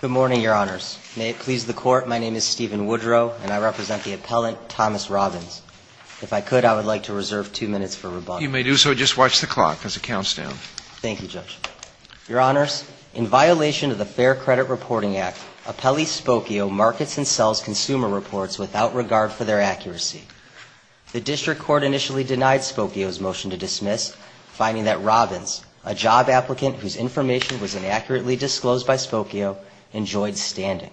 Good morning, Your Honors. May it please the Court, my name is Stephen Woodrow, and I represent the appellant Thomas Robins. If I could, I would like to reserve two minutes for rebuttal. You may do so. Just watch the clock, because it counts down. Thank you, Judge. Your Honors, in violation of the Fair Credit Reporting Act, appellee Spokeo markets and sells consumer reports without regard for their accuracy. The District Court initially denied Spokeo's motion to dismiss, finding that Robins, a job applicant whose information was inaccurately disclosed by Spokeo, enjoyed standing.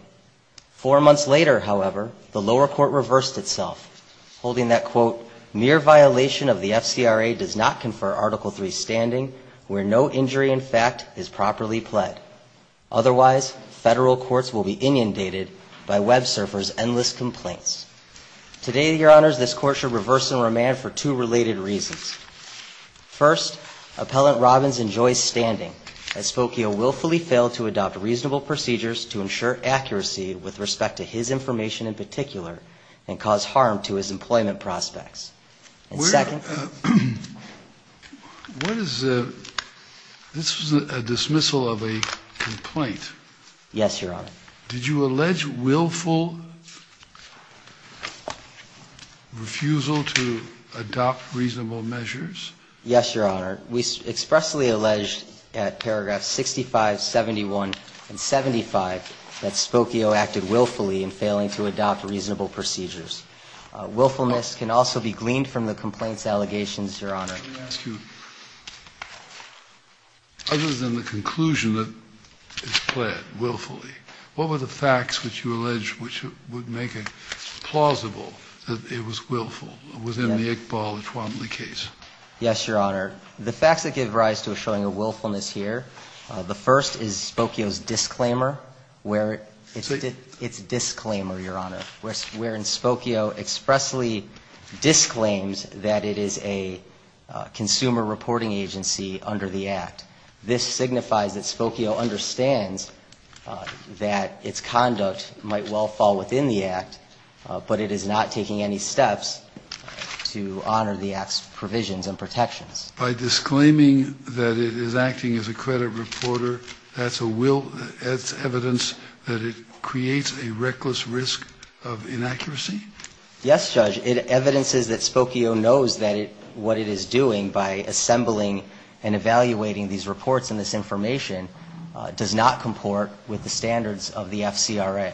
Four months later, however, the lower court reversed itself, holding that, quote, mere violation of the FCRA does not confer Article III standing where no injury in fact is properly pled. Otherwise, federal courts will be inundated by WebSurfer's endless complaints. Today, Your Honors, this Court should reverse and remand for two related reasons. First, appellant Robins enjoys standing, as Spokeo willfully failed to adopt reasonable procedures to ensure accuracy with respect to his information in particular and cause harm to his employment prospects. And second... What is the... this was a dismissal of a complaint. Yes, Your Honor. Did you allege willful refusal to adopt reasonable measures? Yes, Your Honor. We expressly alleged at paragraphs 65, 71, and 75 that Spokeo acted willfully in failing to adopt reasonable procedures. Willfulness can also be gleaned from the complaint's allegations, Your Honor. Let me ask you, other than the conclusion that it's pled willfully, what were the facts which you allege which would make it plausible that it was willful within the Iqbal-Etoile case? Yes, Your Honor. The facts that give rise to a showing of willfulness here, the first is Spokeo's disclaimer, where it's disclaimer, Your Honor, wherein Spokeo expressly disclaims that it is a consumer reporting agency under the Act. This signifies that Spokeo understands that its conduct might well fall within the Act, but it is not taking any steps to honor the Act's provisions and protections. By disclaiming that it is acting as a credit reporter, that's evidence that it creates a reckless risk of inaccuracy? Yes, Judge. It evidences that Spokeo knows what it is doing by assembling and evaluating these reports and this information does not comport with the standards of the FCRA.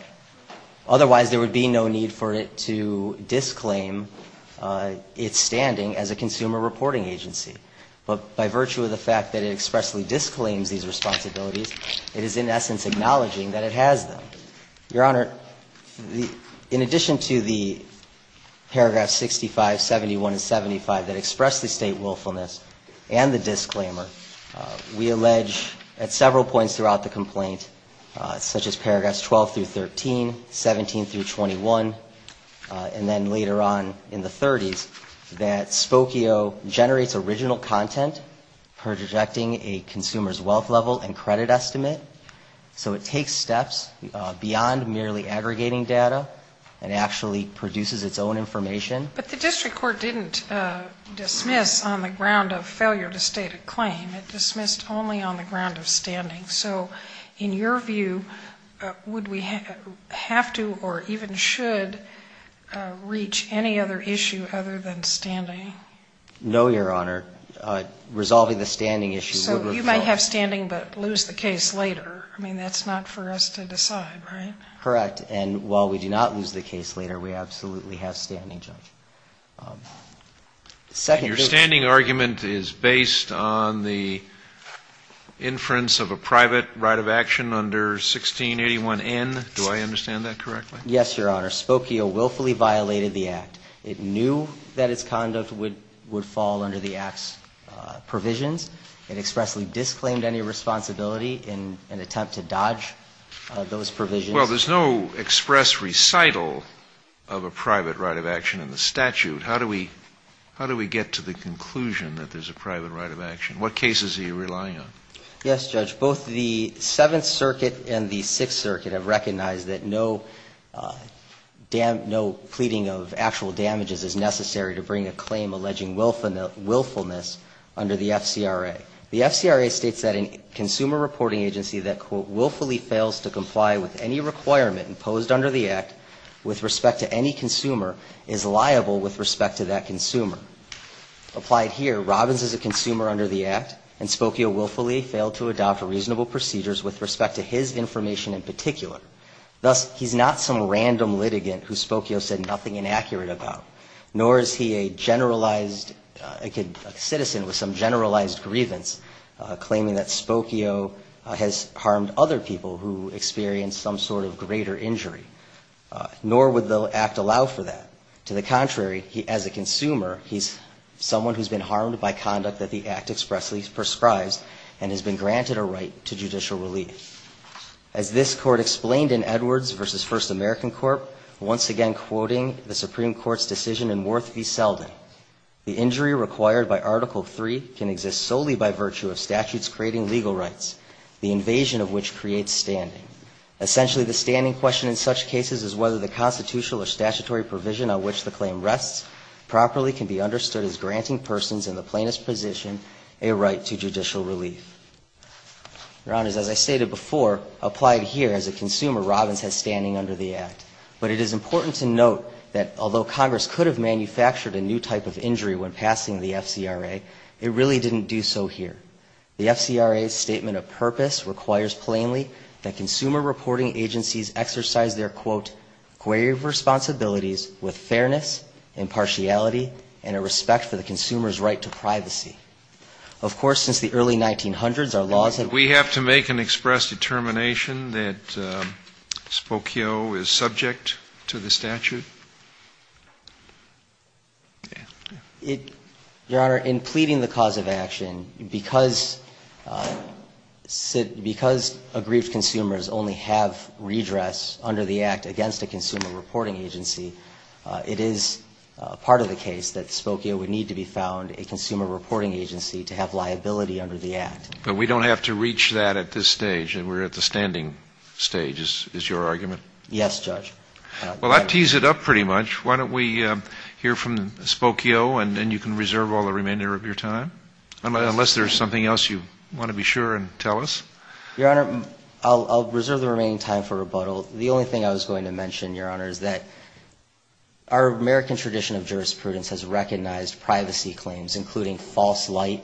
Otherwise, there would be no need for it to disclaim its standing as a consumer reporting agency. But by virtue of the fact that it expressly disclaims these responsibilities, it is in essence acknowledging that it has them. Your Honor, in addition to the paragraphs 65, 71, and 75 that express the State willfulness and the disclaimer, we allege at several points throughout the complaint, such as paragraphs 12 through 13, 17 through 21, and then later on in the 30s, that Spokeo generates original content projecting a consumer's wealth level and credit estimate. So it takes steps beyond merely aggregating data and actually produces its own information. But the district court didn't dismiss on the ground of failure to state a claim. It dismissed only on the ground of standing. So in your view, would we have to or even should reach any other issue other than standing? No, Your Honor. Resolving the standing issue would require So you might have standing but lose the case later. I mean, that's not for us to decide, right? Correct. And while we do not lose the case later, we absolutely have standing, Judge. Your standing argument is based on the inference of a private right of action under 1681N. Do I understand that correctly? Yes, Your Honor. Spokeo willfully violated the Act. It knew that its conduct would fall under the Act's provisions. It expressly disclaimed any responsibility in an attempt to dodge those provisions. Well, there's no express recital of a private right of action in the statute. How do we get to the conclusion that there's a private right of action? What cases are you relying on? Yes, Judge. Both the Seventh Circuit and the Sixth Circuit have recognized that no pleading of actual damages is necessary to bring a claim alleging willfulness under the FCRA. The FCRA states that a consumer reporting agency that, quote, willfully fails to comply with any requirement imposed under the Act with respect to any consumer is liable with respect to that consumer. Applied here, Robbins is a consumer under the Act, and Spokeo willfully failed to adopt reasonable procedures with respect to his information in particular. Thus, he's not some random litigant who Spokeo said nothing inaccurate about, nor is he a generalized citizen with some generalized grievance claiming that Spokeo has harmed other people who experienced some sort of greater injury. Nor would the Act allow for that. To the contrary, as a consumer, he's someone who's been harmed by conduct that the Act expressly prescribes and has been granted a right to judicial relief. As this Court explained in Edwards v. First American Court, once again quoting the Supreme Court's decision in Worth v. Selden, the injury required by Article III can exist solely by virtue of statutes creating legal rights, the invasion of which creates standing. Essentially, the standing question in such cases is whether the constitutional or statutory provision on which the claim rests properly can be understood as granting persons in the plaintiff's position a right to judicial relief. Your Honors, as I stated before, applied here as a consumer, Robbins has standing under the Act. But it is important to note that although Congress could have manufactured a new type of injury when passing the FCRA, it really didn't do so here. The FCRA's statement of purpose requires plainly that consumer reporting agencies exercise their, quote, grave responsibilities with fairness, impartiality, and a respect for the consumer's right to privacy. Of course, since the early 1900s, our laws have been Spokio is subject to the statute? Yes. Your Honor, in pleading the cause of action, because aggrieved consumers only have redress under the Act against a consumer reporting agency, it is part of the case that Spokio would need to be found, a consumer reporting agency, to have liability under the Act. But we don't have to reach that at this stage. We're at the standing stage, is your argument? Yes, Judge. Well, that tees it up pretty much. Why don't we hear from Spokio, and then you can reserve all the remainder of your time, unless there's something else you want to be sure and tell us. Your Honor, I'll reserve the remaining time for rebuttal. The only thing I was going to mention, Your Honor, is that our American tradition of jurisprudence has recognized privacy claims, including false light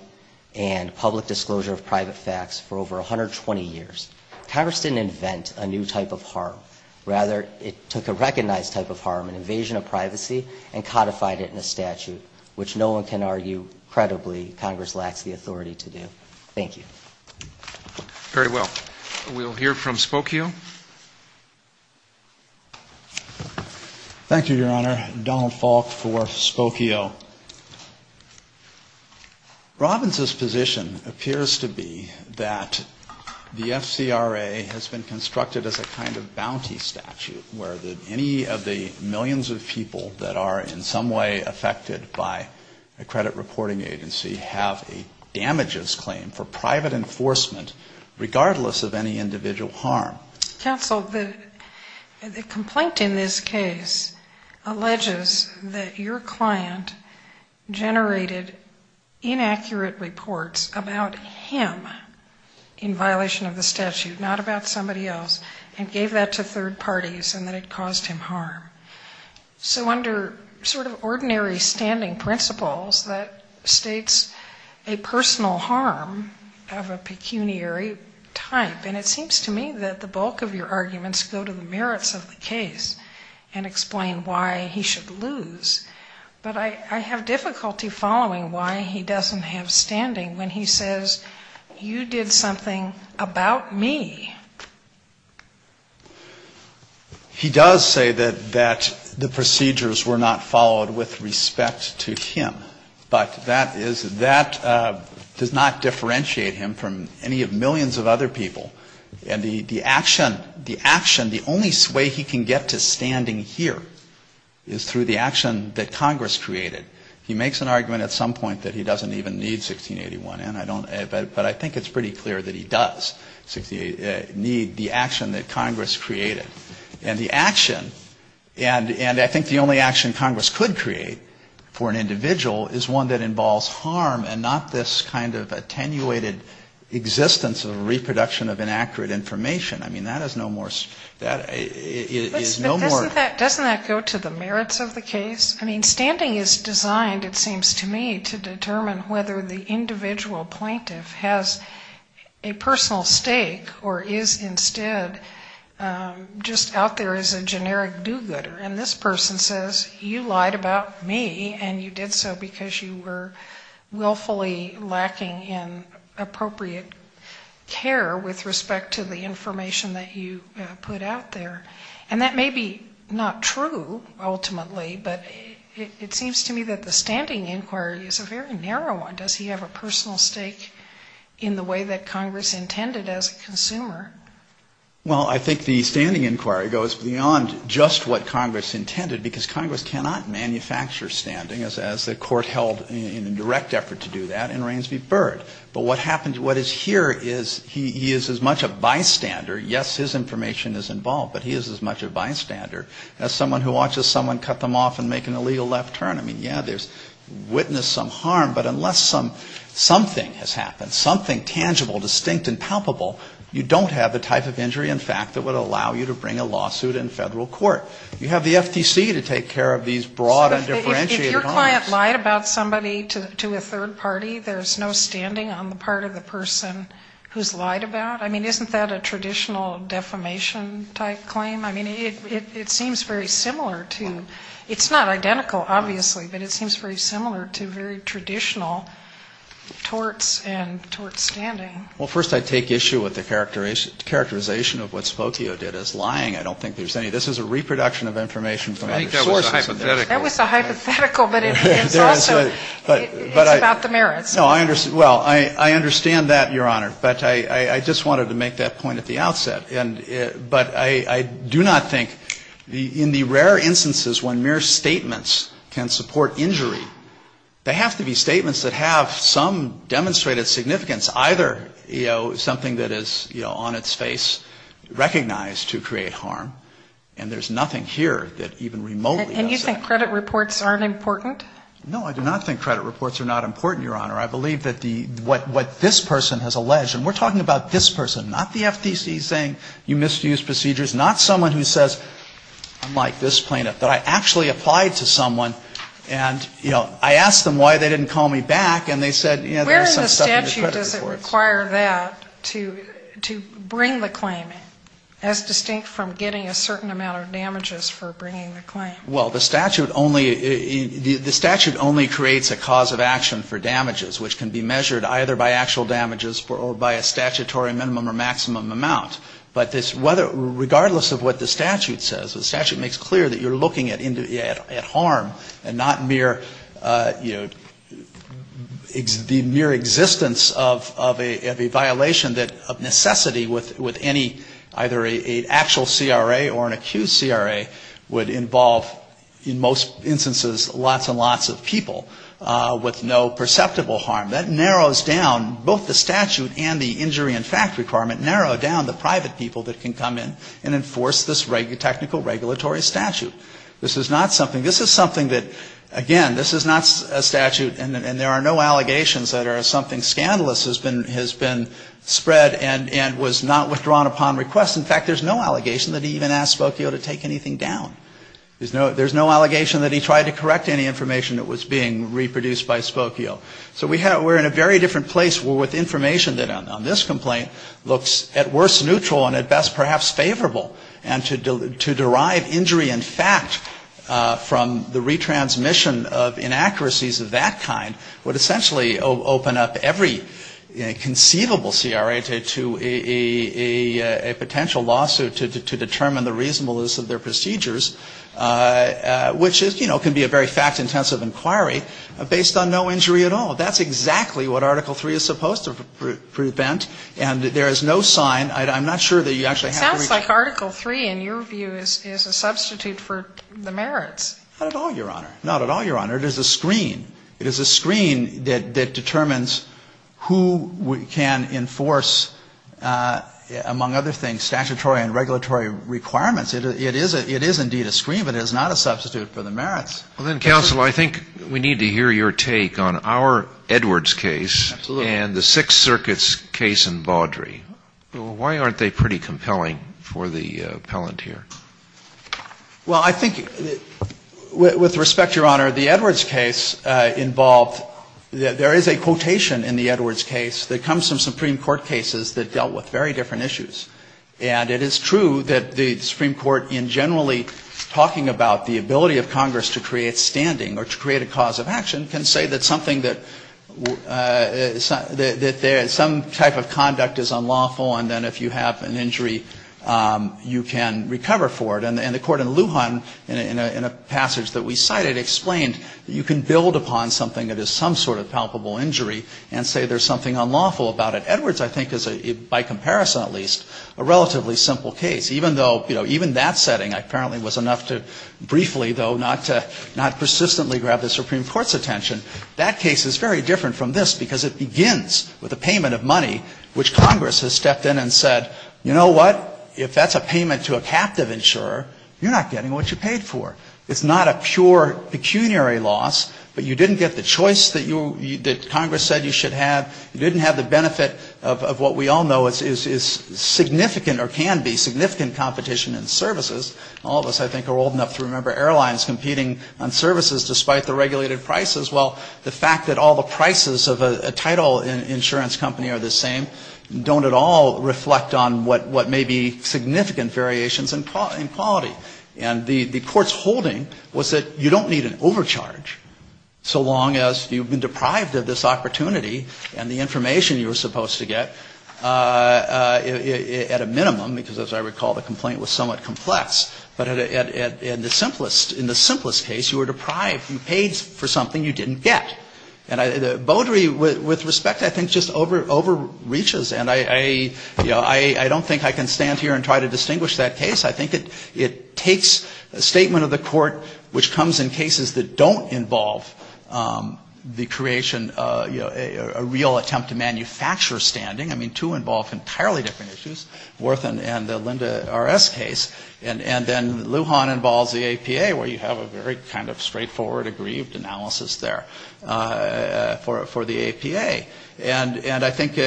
and public disclosure of private facts, for over 120 years. Congress didn't invent a new type of harm. Rather, it took a recognized type of harm, an invasion of privacy, and codified it in a statute, which no one can argue credibly Congress lacks the authority to do. Thank you. Very well. We'll hear from Spokio. Thank you, Your Honor. Donald Falk for Spokio. Robbins' position appears to be that the FCRA has been constructed as a kind of bounty statute, where any of the millions of people that are in some way affected by a credit reporting agency have a damages claim for private enforcement, regardless of any individual harm. Counsel, the complaint in this case alleges that your client generated inaccurate reports about him in violation of the statute, not about somebody else, and gave that to third parties and that it caused him harm. So under sort of ordinary standing principles, that states a personal harm of a pecuniary type. And it seems to me that the bulk of your arguments go to the merits of the case and explain why he should lose. But I have difficulty following why he doesn't have standing when he says, you did something about me. He does say that the procedures were not followed with respect to him. But that is, that does not differentiate him from any of millions of other people and the action, the action, the only way he can get to standing here is through the action that Congress created. He makes an argument at some point that he doesn't even need 1681, but I think it's pretty clear that he does need the action that Congress created. And the action, and I think the only action Congress could create for an individual is one that involves harm and not this kind of attenuated existence of reproduction of inaccurate information. I mean, that is no more, that is no more. But doesn't that go to the merits of the case? I mean, standing is designed, it seems to me, to determine whether the individual plaintiff has a personal stake or is instead just out there as a generic do-gooder. And this person says, you lied about me and you did so because you were willfully lacking in appropriate care with respect to the information that you put out there. And that may be not true, ultimately, but it seems to me that the standing inquiry is a very narrow one. Does he have a personal stake in the way that Congress intended as a consumer? Well, I think the standing inquiry goes beyond just what Congress intended, because Congress cannot manufacture standing as the court held in a direct effort to do that in Rainsview-Byrd. But what happens, what is here is he is as much a bystander, yes, his information is involved, but he is as much a bystander as someone who watches someone cut them off and make an illegal left turn. I mean, yeah, there's witness some harm, but unless something has happened, something tangible, distinct and palpable, you don't have the type of injury in fact that would allow you to bring a lawsuit in federal court. You have the FTC to take care of these broad and differentiated harms. So if your client lied about somebody to a third party, there's no standing on the part of the person who's lied about? I mean, isn't that a traditional defamation-type claim? I mean, it seems very similar to, it's not identical, obviously, but it seems very similar to very traditional torts and torts standing. Well, first I take issue with the characterization of what Spotio did as lying. I don't think there's any. This is a reproduction of information from other sources. I think that was a hypothetical. That was a hypothetical, but it's also, it's about the merits. No, I understand, well, I understand that, Your Honor, but I just wanted to make that point at the outset. But I do not think, in the rare instances when mere statements can support injury, they have to be statements that have some demonstrated significance. Either, you know, something that is, you know, on its face, recognized to create harm, and there's nothing here that even remotely does that. And you think credit reports aren't important? No, I do not think credit reports are not important, Your Honor. I believe that what this person has alleged, and we're talking about this person, not the FTC saying you misused procedures, not someone who says, I'm like this plaintiff, that I actually applied to someone, and, you know, I asked them why they didn't call me back, and they said, you know, there's some stuff in the credit reports. Where in the statute does it require that to bring the claim in, as distinct from getting a certain amount of damages for bringing the claim? Well, the statute only, the statute only creates a cause of action for damages, which can be measured either by actual damages or by a statutory minimum or maximum amount. But this, whether, regardless of what the statute says, the statute makes clear that you're looking at harm and not mere, you know, the mere existence of a violation of necessity with any, either an actual CRA or an accused CRA would involve, in most instances, lots and lots of people with no perceptible harm. That narrows down both the statute and the injury and fact requirement, narrow down the private people that can come in and enforce this technical regulatory statute. This is not something, this is something that, again, this is not a statute, and there are no allegations that are something scandalous has been spread and was not withdrawn upon request. In fact, there's no allegation that he even asked Spokio to take anything down. There's no allegation that he tried to correct any information that was being reproduced by Spokio. So we're in a very different place with information that on this complaint looks at worst neutral and at best perhaps favorable. And to derive injury and fact from the retransmission of inaccuracies of that kind would essentially open up every conceivable CRA to a potential lawsuit to determine the reasonableness of their procedures, which, you know, can be a very fact-intensive inquiry based on no injury at all. That's exactly what Article III is supposed to prevent, and there is no sign. I'm not sure that you actually have to reach out. It sounds like Article III, in your view, is a substitute for the merits. Not at all, Your Honor. Not at all, Your Honor. It is a screen. It is a screen that determines who can enforce, among other things, statutory and regulatory requirements. It is indeed a screen, but it is not a substitute for the merits. Well, then, counsel, I think we need to hear your take on our Edwards case. Absolutely. And the Sixth Circuit's case in Baudry. Why aren't they pretty compelling for the appellant here? Well, I think, with respect, Your Honor, the Edwards case involved there is a quotation in the Edwards case that comes from Supreme Court cases that dealt with very different issues. And it is true that the Supreme Court, in generally talking about the ability of Congress to create standing or to create a cause of action, can say that something that some type of conduct is unlawful and then if you have an injury, you can recover for it. And the court in Lujan, in a passage that we cited, explained you can build upon something that is some sort of palpable injury and say there's something unlawful about it. Edwards, I think, is, by comparison at least, a relatively simple case. Even though, you know, even that setting apparently was enough to briefly, though, not to persistently grab the Supreme Court's attention. That case is very different from this because it begins with a payment of money, which Congress has stepped in and said, you know what, if that's a payment to a captive insurer, you're not getting what you paid for. It's not a pure pecuniary loss, but you didn't get the choice that Congress said you should have. You didn't have the benefit of what we all know is significant or can be significant competition in services. All of us, I think, are old enough to remember airlines competing on services despite the regulated prices. Well, the fact that all the prices of a title insurance company are the same don't at all reflect on what may be significant variations in quality. And the court's holding was that you don't need an overcharge so long as you've been deprived of this opportunity and the information you were supposed to get at a minimum because, as I recall, the complaint was somewhat complex. But in the simplest case, you were deprived. You paid for something you didn't get. And the bodery with respect, I think, just overreaches. And I don't think I can stand here and try to distinguish that case. I think it takes a statement of the court which comes in cases that don't involve the creation and a real attempt to manufacture standing. I mean, two involve entirely different issues, Worthen and the Linda RS case. And then Lujan involves the APA where you have a very kind of straightforward, aggrieved analysis there for the APA. And I think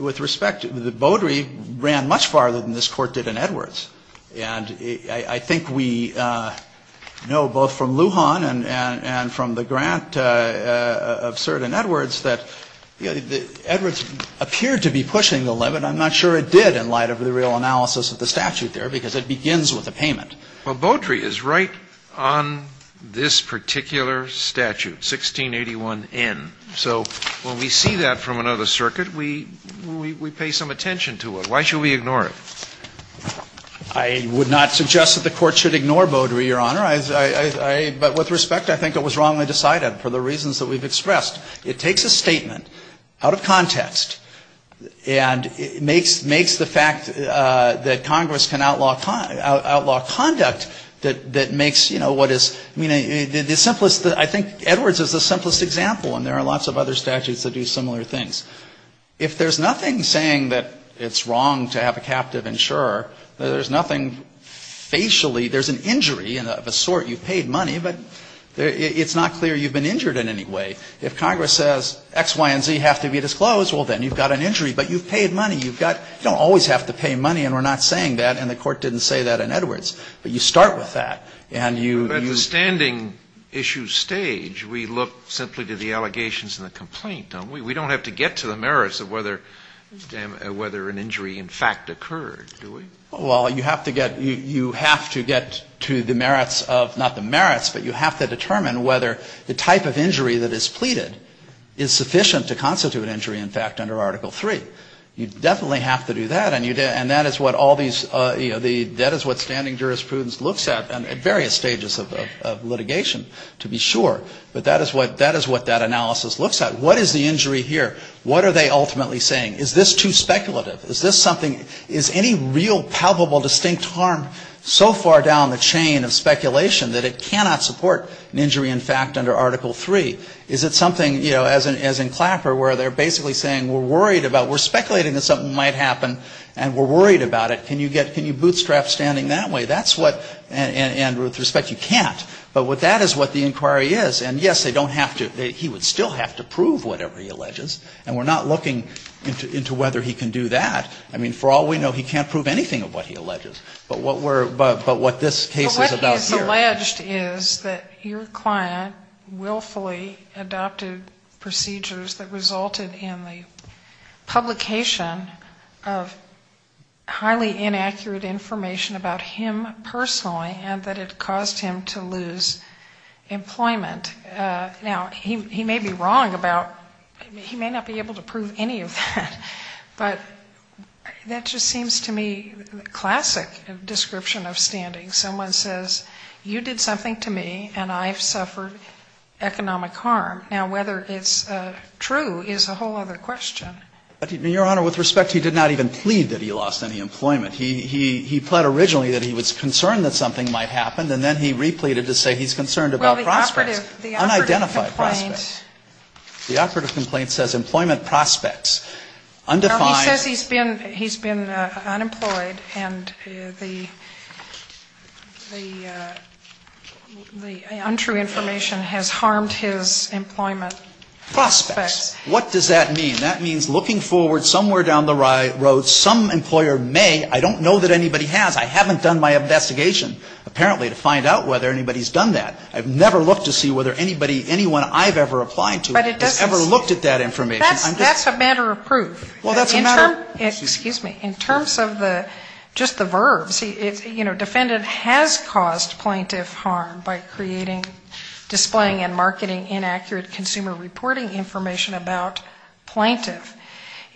with respect, the bodery ran much farther than this court did in Edwards. And I think we know both from Lujan and from the grant of Sirden-Edwards that Edwards appeared to be pushing the limit. I'm not sure it did in light of the real analysis of the statute there because it begins with a payment. Well, bodery is right on this particular statute, 1681N. So when we see that from another circuit, we pay some attention to it. Why should we ignore it? I would not suggest that the Court should ignore bodery, Your Honor. But with respect, I think it was wrongly decided for the reasons that we've expressed. It takes a statement out of context and makes the fact that Congress can outlaw conduct that makes, you know, what is the simplest ‑‑ I think Edwards is the simplest example, and there are lots of other statutes that do similar things. If there's nothing saying that it's wrong to have a captive insurer, there's nothing facially. There's an injury of a sort. You've paid money. But it's not clear you've been injured in any way. If Congress says X, Y, and Z have to be disclosed, well, then you've got an injury. But you've paid money. You've got ‑‑ you don't always have to pay money, and we're not saying that, and the Court didn't say that in Edwards. But you start with that, and you ‑‑ But at the standing issue stage, we look simply to the allegations and the complaint, don't we? We don't have to get to the merits of whether an injury, in fact, occurred, do we? Well, you have to get to the merits of ‑‑ not the merits, but you have to determine whether the type of injury that is pleaded is sufficient to constitute an injury, in fact, under Article III. You definitely have to do that, and that is what all these ‑‑ you know, that is what standing jurisprudence looks at at various stages of litigation, to be sure. But that is what that analysis looks at. What is the injury here? What are they ultimately saying? Is this too speculative? Is this something ‑‑ is any real palpable distinct harm so far down the chain of speculation that it cannot support an injury, in fact, under Article III? Is it something, you know, as in Clapper, where they're basically saying we're worried about ‑‑ we're speculating that something might happen, and we're worried about it. Can you bootstrap standing that way? That's what ‑‑ and with respect, you can't. But that is what the inquiry is. And yes, they don't have to ‑‑ he would still have to prove whatever he alleges, and we're not looking into whether he can do that. I mean, for all we know, he can't prove anything of what he alleges. But what we're ‑‑ but what this case is about here ‑‑ But what he's alleged is that your client willfully adopted procedures that resulted in the publication of highly inaccurate information about him Now, he may be wrong about ‑‑ he may not be able to prove any of that. But that just seems to me classic description of standing. Someone says you did something to me, and I've suffered economic harm. Now, whether it's true is a whole other question. But, Your Honor, with respect, he did not even plead that he lost any employment. He pled originally that he was concerned that something might happen, and then he unidentified prospects. The operative complaint says employment prospects. Undefined. He says he's been unemployed, and the untrue information has harmed his employment prospects. What does that mean? That means looking forward somewhere down the road, some employer may ‑‑ I don't know that anybody has. I haven't done my investigation apparently to find out whether anybody's done that. I've never looked to see whether anybody, anyone I've ever applied to has ever looked at that information. That's a matter of proof. Well, that's a matter of ‑‑ Excuse me. In terms of just the verbs, you know, defendant has caused plaintiff harm by creating, displaying and marketing inaccurate consumer reporting information about plaintiff.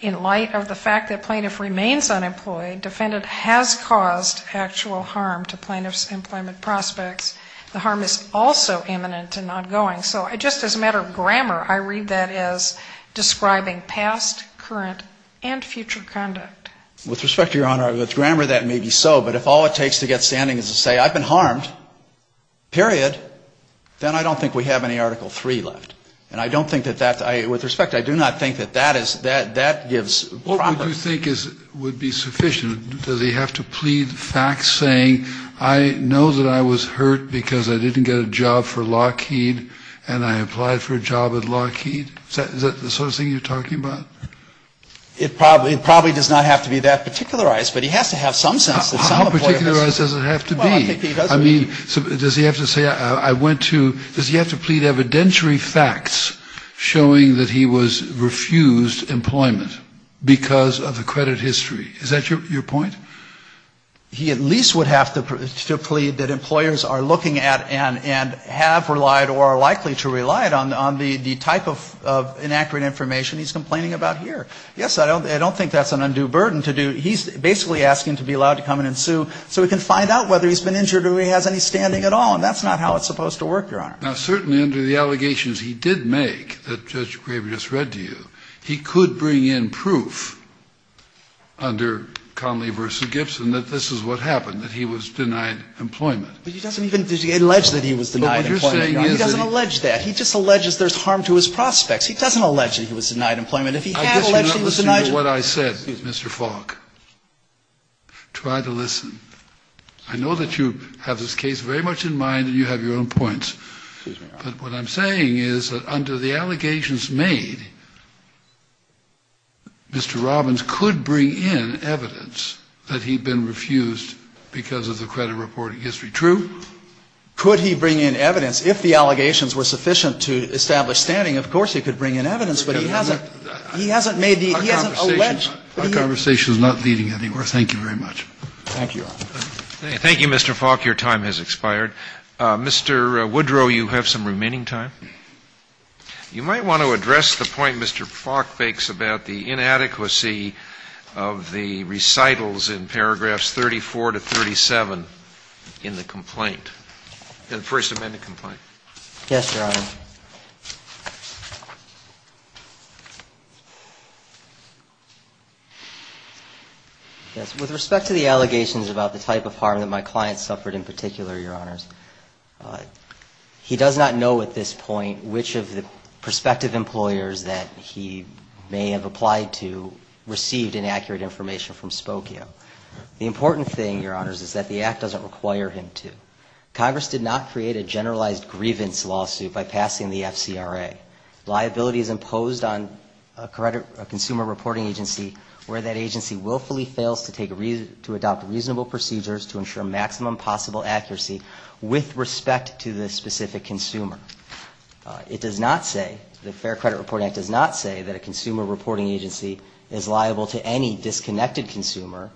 In light of the fact that plaintiff remains unemployed, defendant has caused actual harm to plaintiff's employment prospects. The harm is also imminent and ongoing. So just as a matter of grammar, I read that as describing past, current and future conduct. With respect to your Honor, with grammar that may be so, but if all it takes to get standing is to say I've been harmed, period, then I don't think we have any Article 3 left. And I don't think that that's ‑‑ with respect, I do not think that that gives ‑‑ What would you think would be sufficient? Does he have to plead facts saying I know that I was hurt because I didn't get a job for Lockheed and I applied for a job at Lockheed? Is that the sort of thing you're talking about? It probably does not have to be that particularized, but he has to have some sense that some employer has ‑‑ How particularized does it have to be? I mean, does he have to say I went to ‑‑ does he have to plead evidentiary facts showing that he was refused employment because of the credit history? Is that your point? He at least would have to plead that employers are looking at and have relied or are likely to rely on the type of inaccurate information he's complaining about here. Yes, I don't think that's an undue burden to do. He's basically asking to be allowed to come in and sue so he can find out whether he's been injured or he has any standing at all, and that's not how it's supposed to work, Your Honor. Now, certainly under the allegations he did make that Judge Graber just read to you, he could bring in proof under Conley v. Gibson that this is what happened, that he was denied employment. But he doesn't even allege that he was denied employment, Your Honor. But what you're saying is that ‑‑ He doesn't allege that. He just alleges there's harm to his prospects. He doesn't allege that he was denied employment. If he had alleged he was denied ‑‑ I guess you're not listening to what I said, Mr. Falk. Try to listen. I know that you have this case very much in mind and you have your own points. But what I'm saying is that under the allegations made, Mr. Robbins could bring in evidence that he'd been refused because of the credit reporting history. True? Could he bring in evidence? If the allegations were sufficient to establish standing, of course he could bring in evidence, but he hasn't ‑‑ he hasn't made the ‑‑ he hasn't alleged. Our conversation is not leading anywhere. Thank you very much. Thank you, Your Honor. Thank you, Mr. Falk. Your time has expired. Mr. Woodrow, you have some remaining time. You might want to address the point Mr. Falk makes about the inadequacy of the recitals in paragraphs 34 to 37 in the complaint, in the First Amendment complaint. Yes, Your Honor. With respect to the allegations about the type of harm that my client suffered in particular, Your Honors, he does not know at this point which of the prospective employers that he may have applied to received inaccurate information from Spokio. The important thing, Your Honors, is that the act doesn't require him to. Congress did not create a generalized grievance lawsuit by passing a lawsuit by passing the FCRA. Liability is imposed on a consumer reporting agency where that agency willfully fails to adopt reasonable procedures to ensure maximum possible accuracy with respect to the specific consumer. It does not say, the Fair Credit Reporting Act does not say that a consumer reporting agency is liable to any disconnected consumer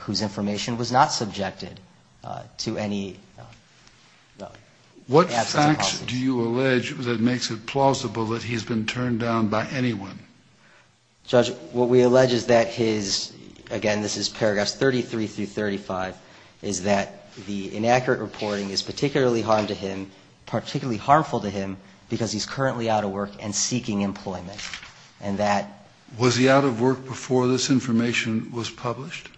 whose information was not subjected to any What facts do you allege that makes it plausible that he's been turned down by anyone? Judge, what we allege is that his, again this is paragraphs 33 through 35, is that the inaccurate reporting is particularly harmful to him because he's currently out of work and seeking employment. And that Was he out of work before this information was published?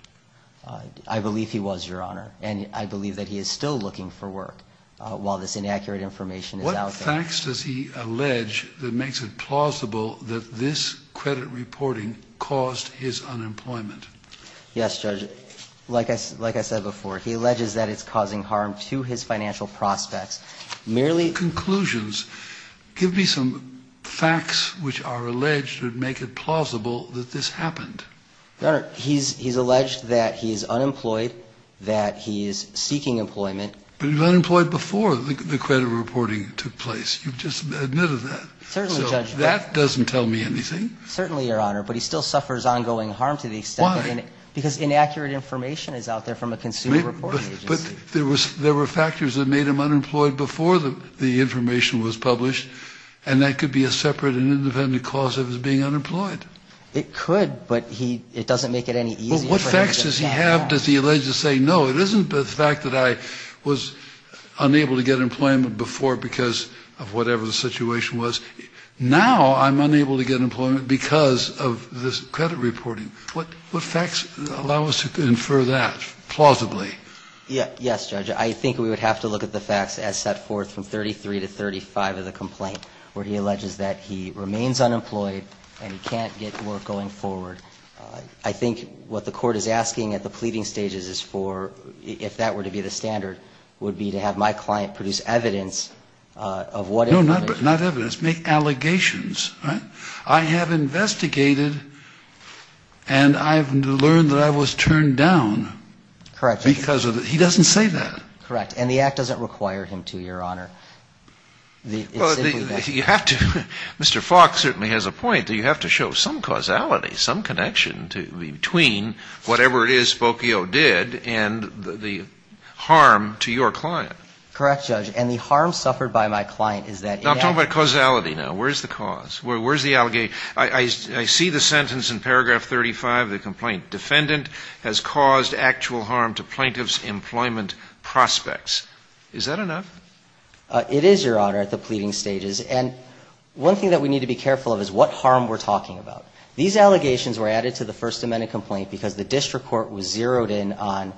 I believe he was, Your Honor, and I believe that he is still looking for work while this inaccurate information is out there. What facts does he allege that makes it plausible that this credit reporting caused his unemployment? Yes, Judge, like I said before, he alleges that it's causing harm to his financial prospects. Conclusions. Give me some facts which are alleged to make it plausible that this happened. Your Honor, he's alleged that he's unemployed, that he's seeking employment. But he was unemployed before the credit reporting took place. You've just admitted that. Certainly, Judge. So that doesn't tell me anything. Certainly, Your Honor, but he still suffers ongoing harm to the extent that Why? Because inaccurate information is out there from a consumer reporting agency. But there were factors that made him unemployed before the information was published, and that could be a separate and independent cause of his being unemployed. It could, but it doesn't make it any easier. What facts does he have does he allege to say, no, it isn't the fact that I was unable to get employment before because of whatever the situation was. Now I'm unable to get employment because of this credit reporting. What facts allow us to infer that plausibly? Yes, Judge, I think we would have to look at the facts as set forth from 33 to 35 of the complaint, where he alleges that he remains unemployed and he can't get work going forward. I think what the court is asking at the pleading stages is for, if that were to be the standard, would be to have my client produce evidence of what information No, not evidence. Make allegations. All right? I have investigated, and I have learned that I was turned down. Correct. Because of it. He doesn't say that. Correct. And the act doesn't require him to, Your Honor. You have to, Mr. Falk certainly has a point that you have to show some causality, some connection between whatever it is Spokio did and the harm to your client. Correct, Judge. And the harm suffered by my client is that it had I'm talking about causality now. Where is the cause? Where is the allegation? I see the sentence in paragraph 35 of the complaint, defendant has caused actual harm to plaintiff's employment prospects. Is that enough? It is, Your Honor, at the pleading stages. And one thing that we need to be careful of is what harm we're talking about. These allegations were added to the First Amendment complaint because the district court was zeroed in on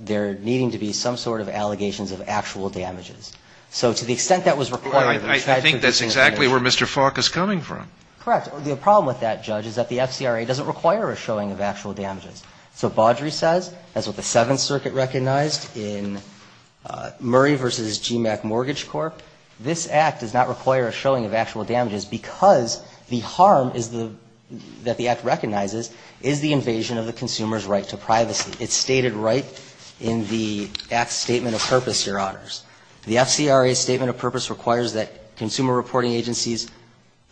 there needing to be some sort of allegations of actual damages. So to the extent that was required I think that's exactly where Mr. Falk is coming from. Correct. The problem with that, Judge, is that the FCRA doesn't require a showing of actual damages. So Baudry says, that's what the Seventh Circuit recognized in Murray v. GMAC Mortgage Court, this Act does not require a showing of actual damages because the harm that the Act recognizes is the invasion of the consumer's right to privacy. It's stated right in the Act's statement of purpose, Your Honors. The FCRA's statement of purpose requires that consumer reporting agencies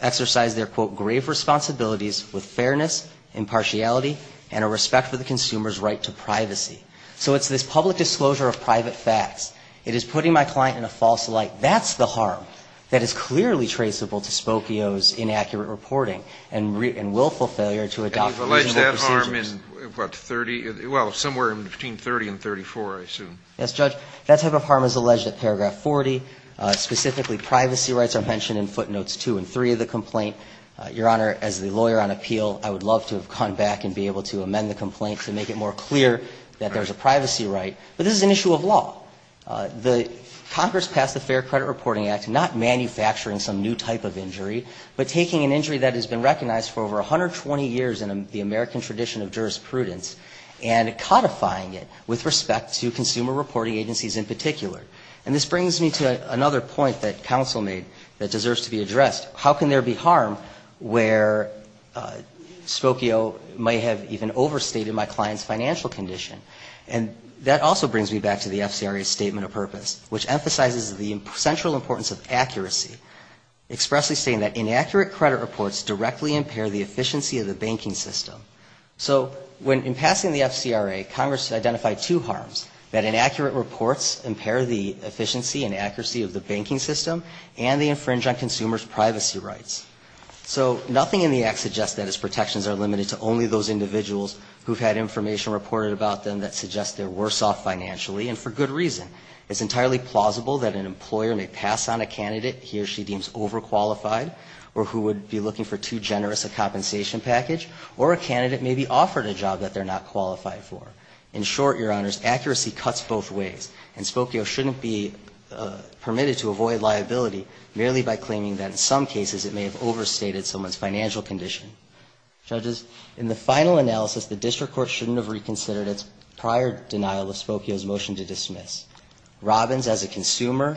exercise their, quote, grave responsibilities with fairness, impartiality, and a respect for the consumer's right to privacy. So it's this public disclosure of private facts. It is putting my client in a false light. That's the harm that is clearly traceable to Spokio's inaccurate reporting and willful failure to adopt reasonable procedures. And you've alleged that harm in, what, 30? Well, somewhere between 30 and 34, I assume. Yes, Judge. That type of harm is alleged at paragraph 40. Specifically, privacy rights are mentioned in footnotes 2 and 3 of the complaint. Your Honor, as the lawyer on appeal, I would love to have gone back and be able to amend the complaint to make it more clear that there's a privacy right. But this is an issue of law. The Congress passed the Fair Credit Reporting Act not manufacturing some new type of injury, but taking an injury that has been recognized for over 120 years in the American tradition of jurisprudence and codifying it with respect to consumer reporting agencies in particular. And this brings me to another point that counsel made that deserves to be addressed. How can there be harm where Spokio may have even overstated my client's financial condition? And that also brings me back to the FCRA's statement of purpose, which emphasizes the central importance of accuracy, expressly saying that inaccurate credit reports directly impair the efficiency of the banking system. So when in passing the FCRA, Congress identified two harms, that inaccurate reports impair the efficiency and accuracy of the banking system and they infringe on consumers' privacy rights. So nothing in the Act suggests that its protections are limited to only those individuals who've had information reported about them that suggests they're worse off financially and for good reason. It's entirely plausible that an employer may pass on a candidate he or she deems overqualified or who would be looking for too generous a compensation package, or a candidate may be offered a job that they're not qualified for. In short, Your Honors, accuracy cuts both ways. And Spokio shouldn't be permitted to avoid liability merely by claiming that in some cases it may have overstated someone's financial condition. Judges, in the final analysis, the district court shouldn't have reconsidered its prior denial of Spokio's motion to dismiss. Robbins, as a consumer,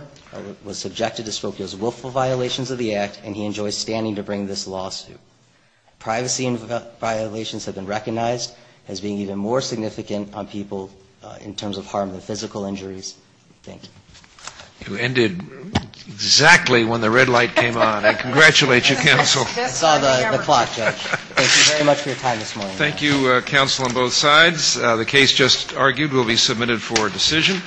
was subjected to Spokio's willful violations of the Act and he enjoys standing to bring this lawsuit. Privacy violations have been recognized as being even more significant on people in terms of harm than physical injuries. Thank you. You ended exactly when the red light came on. I congratulate you, Counsel. I saw the clock, Judge. Thank you very much for your time this morning. Thank you, Counsel, on both sides. The case just argued will be submitted for decision.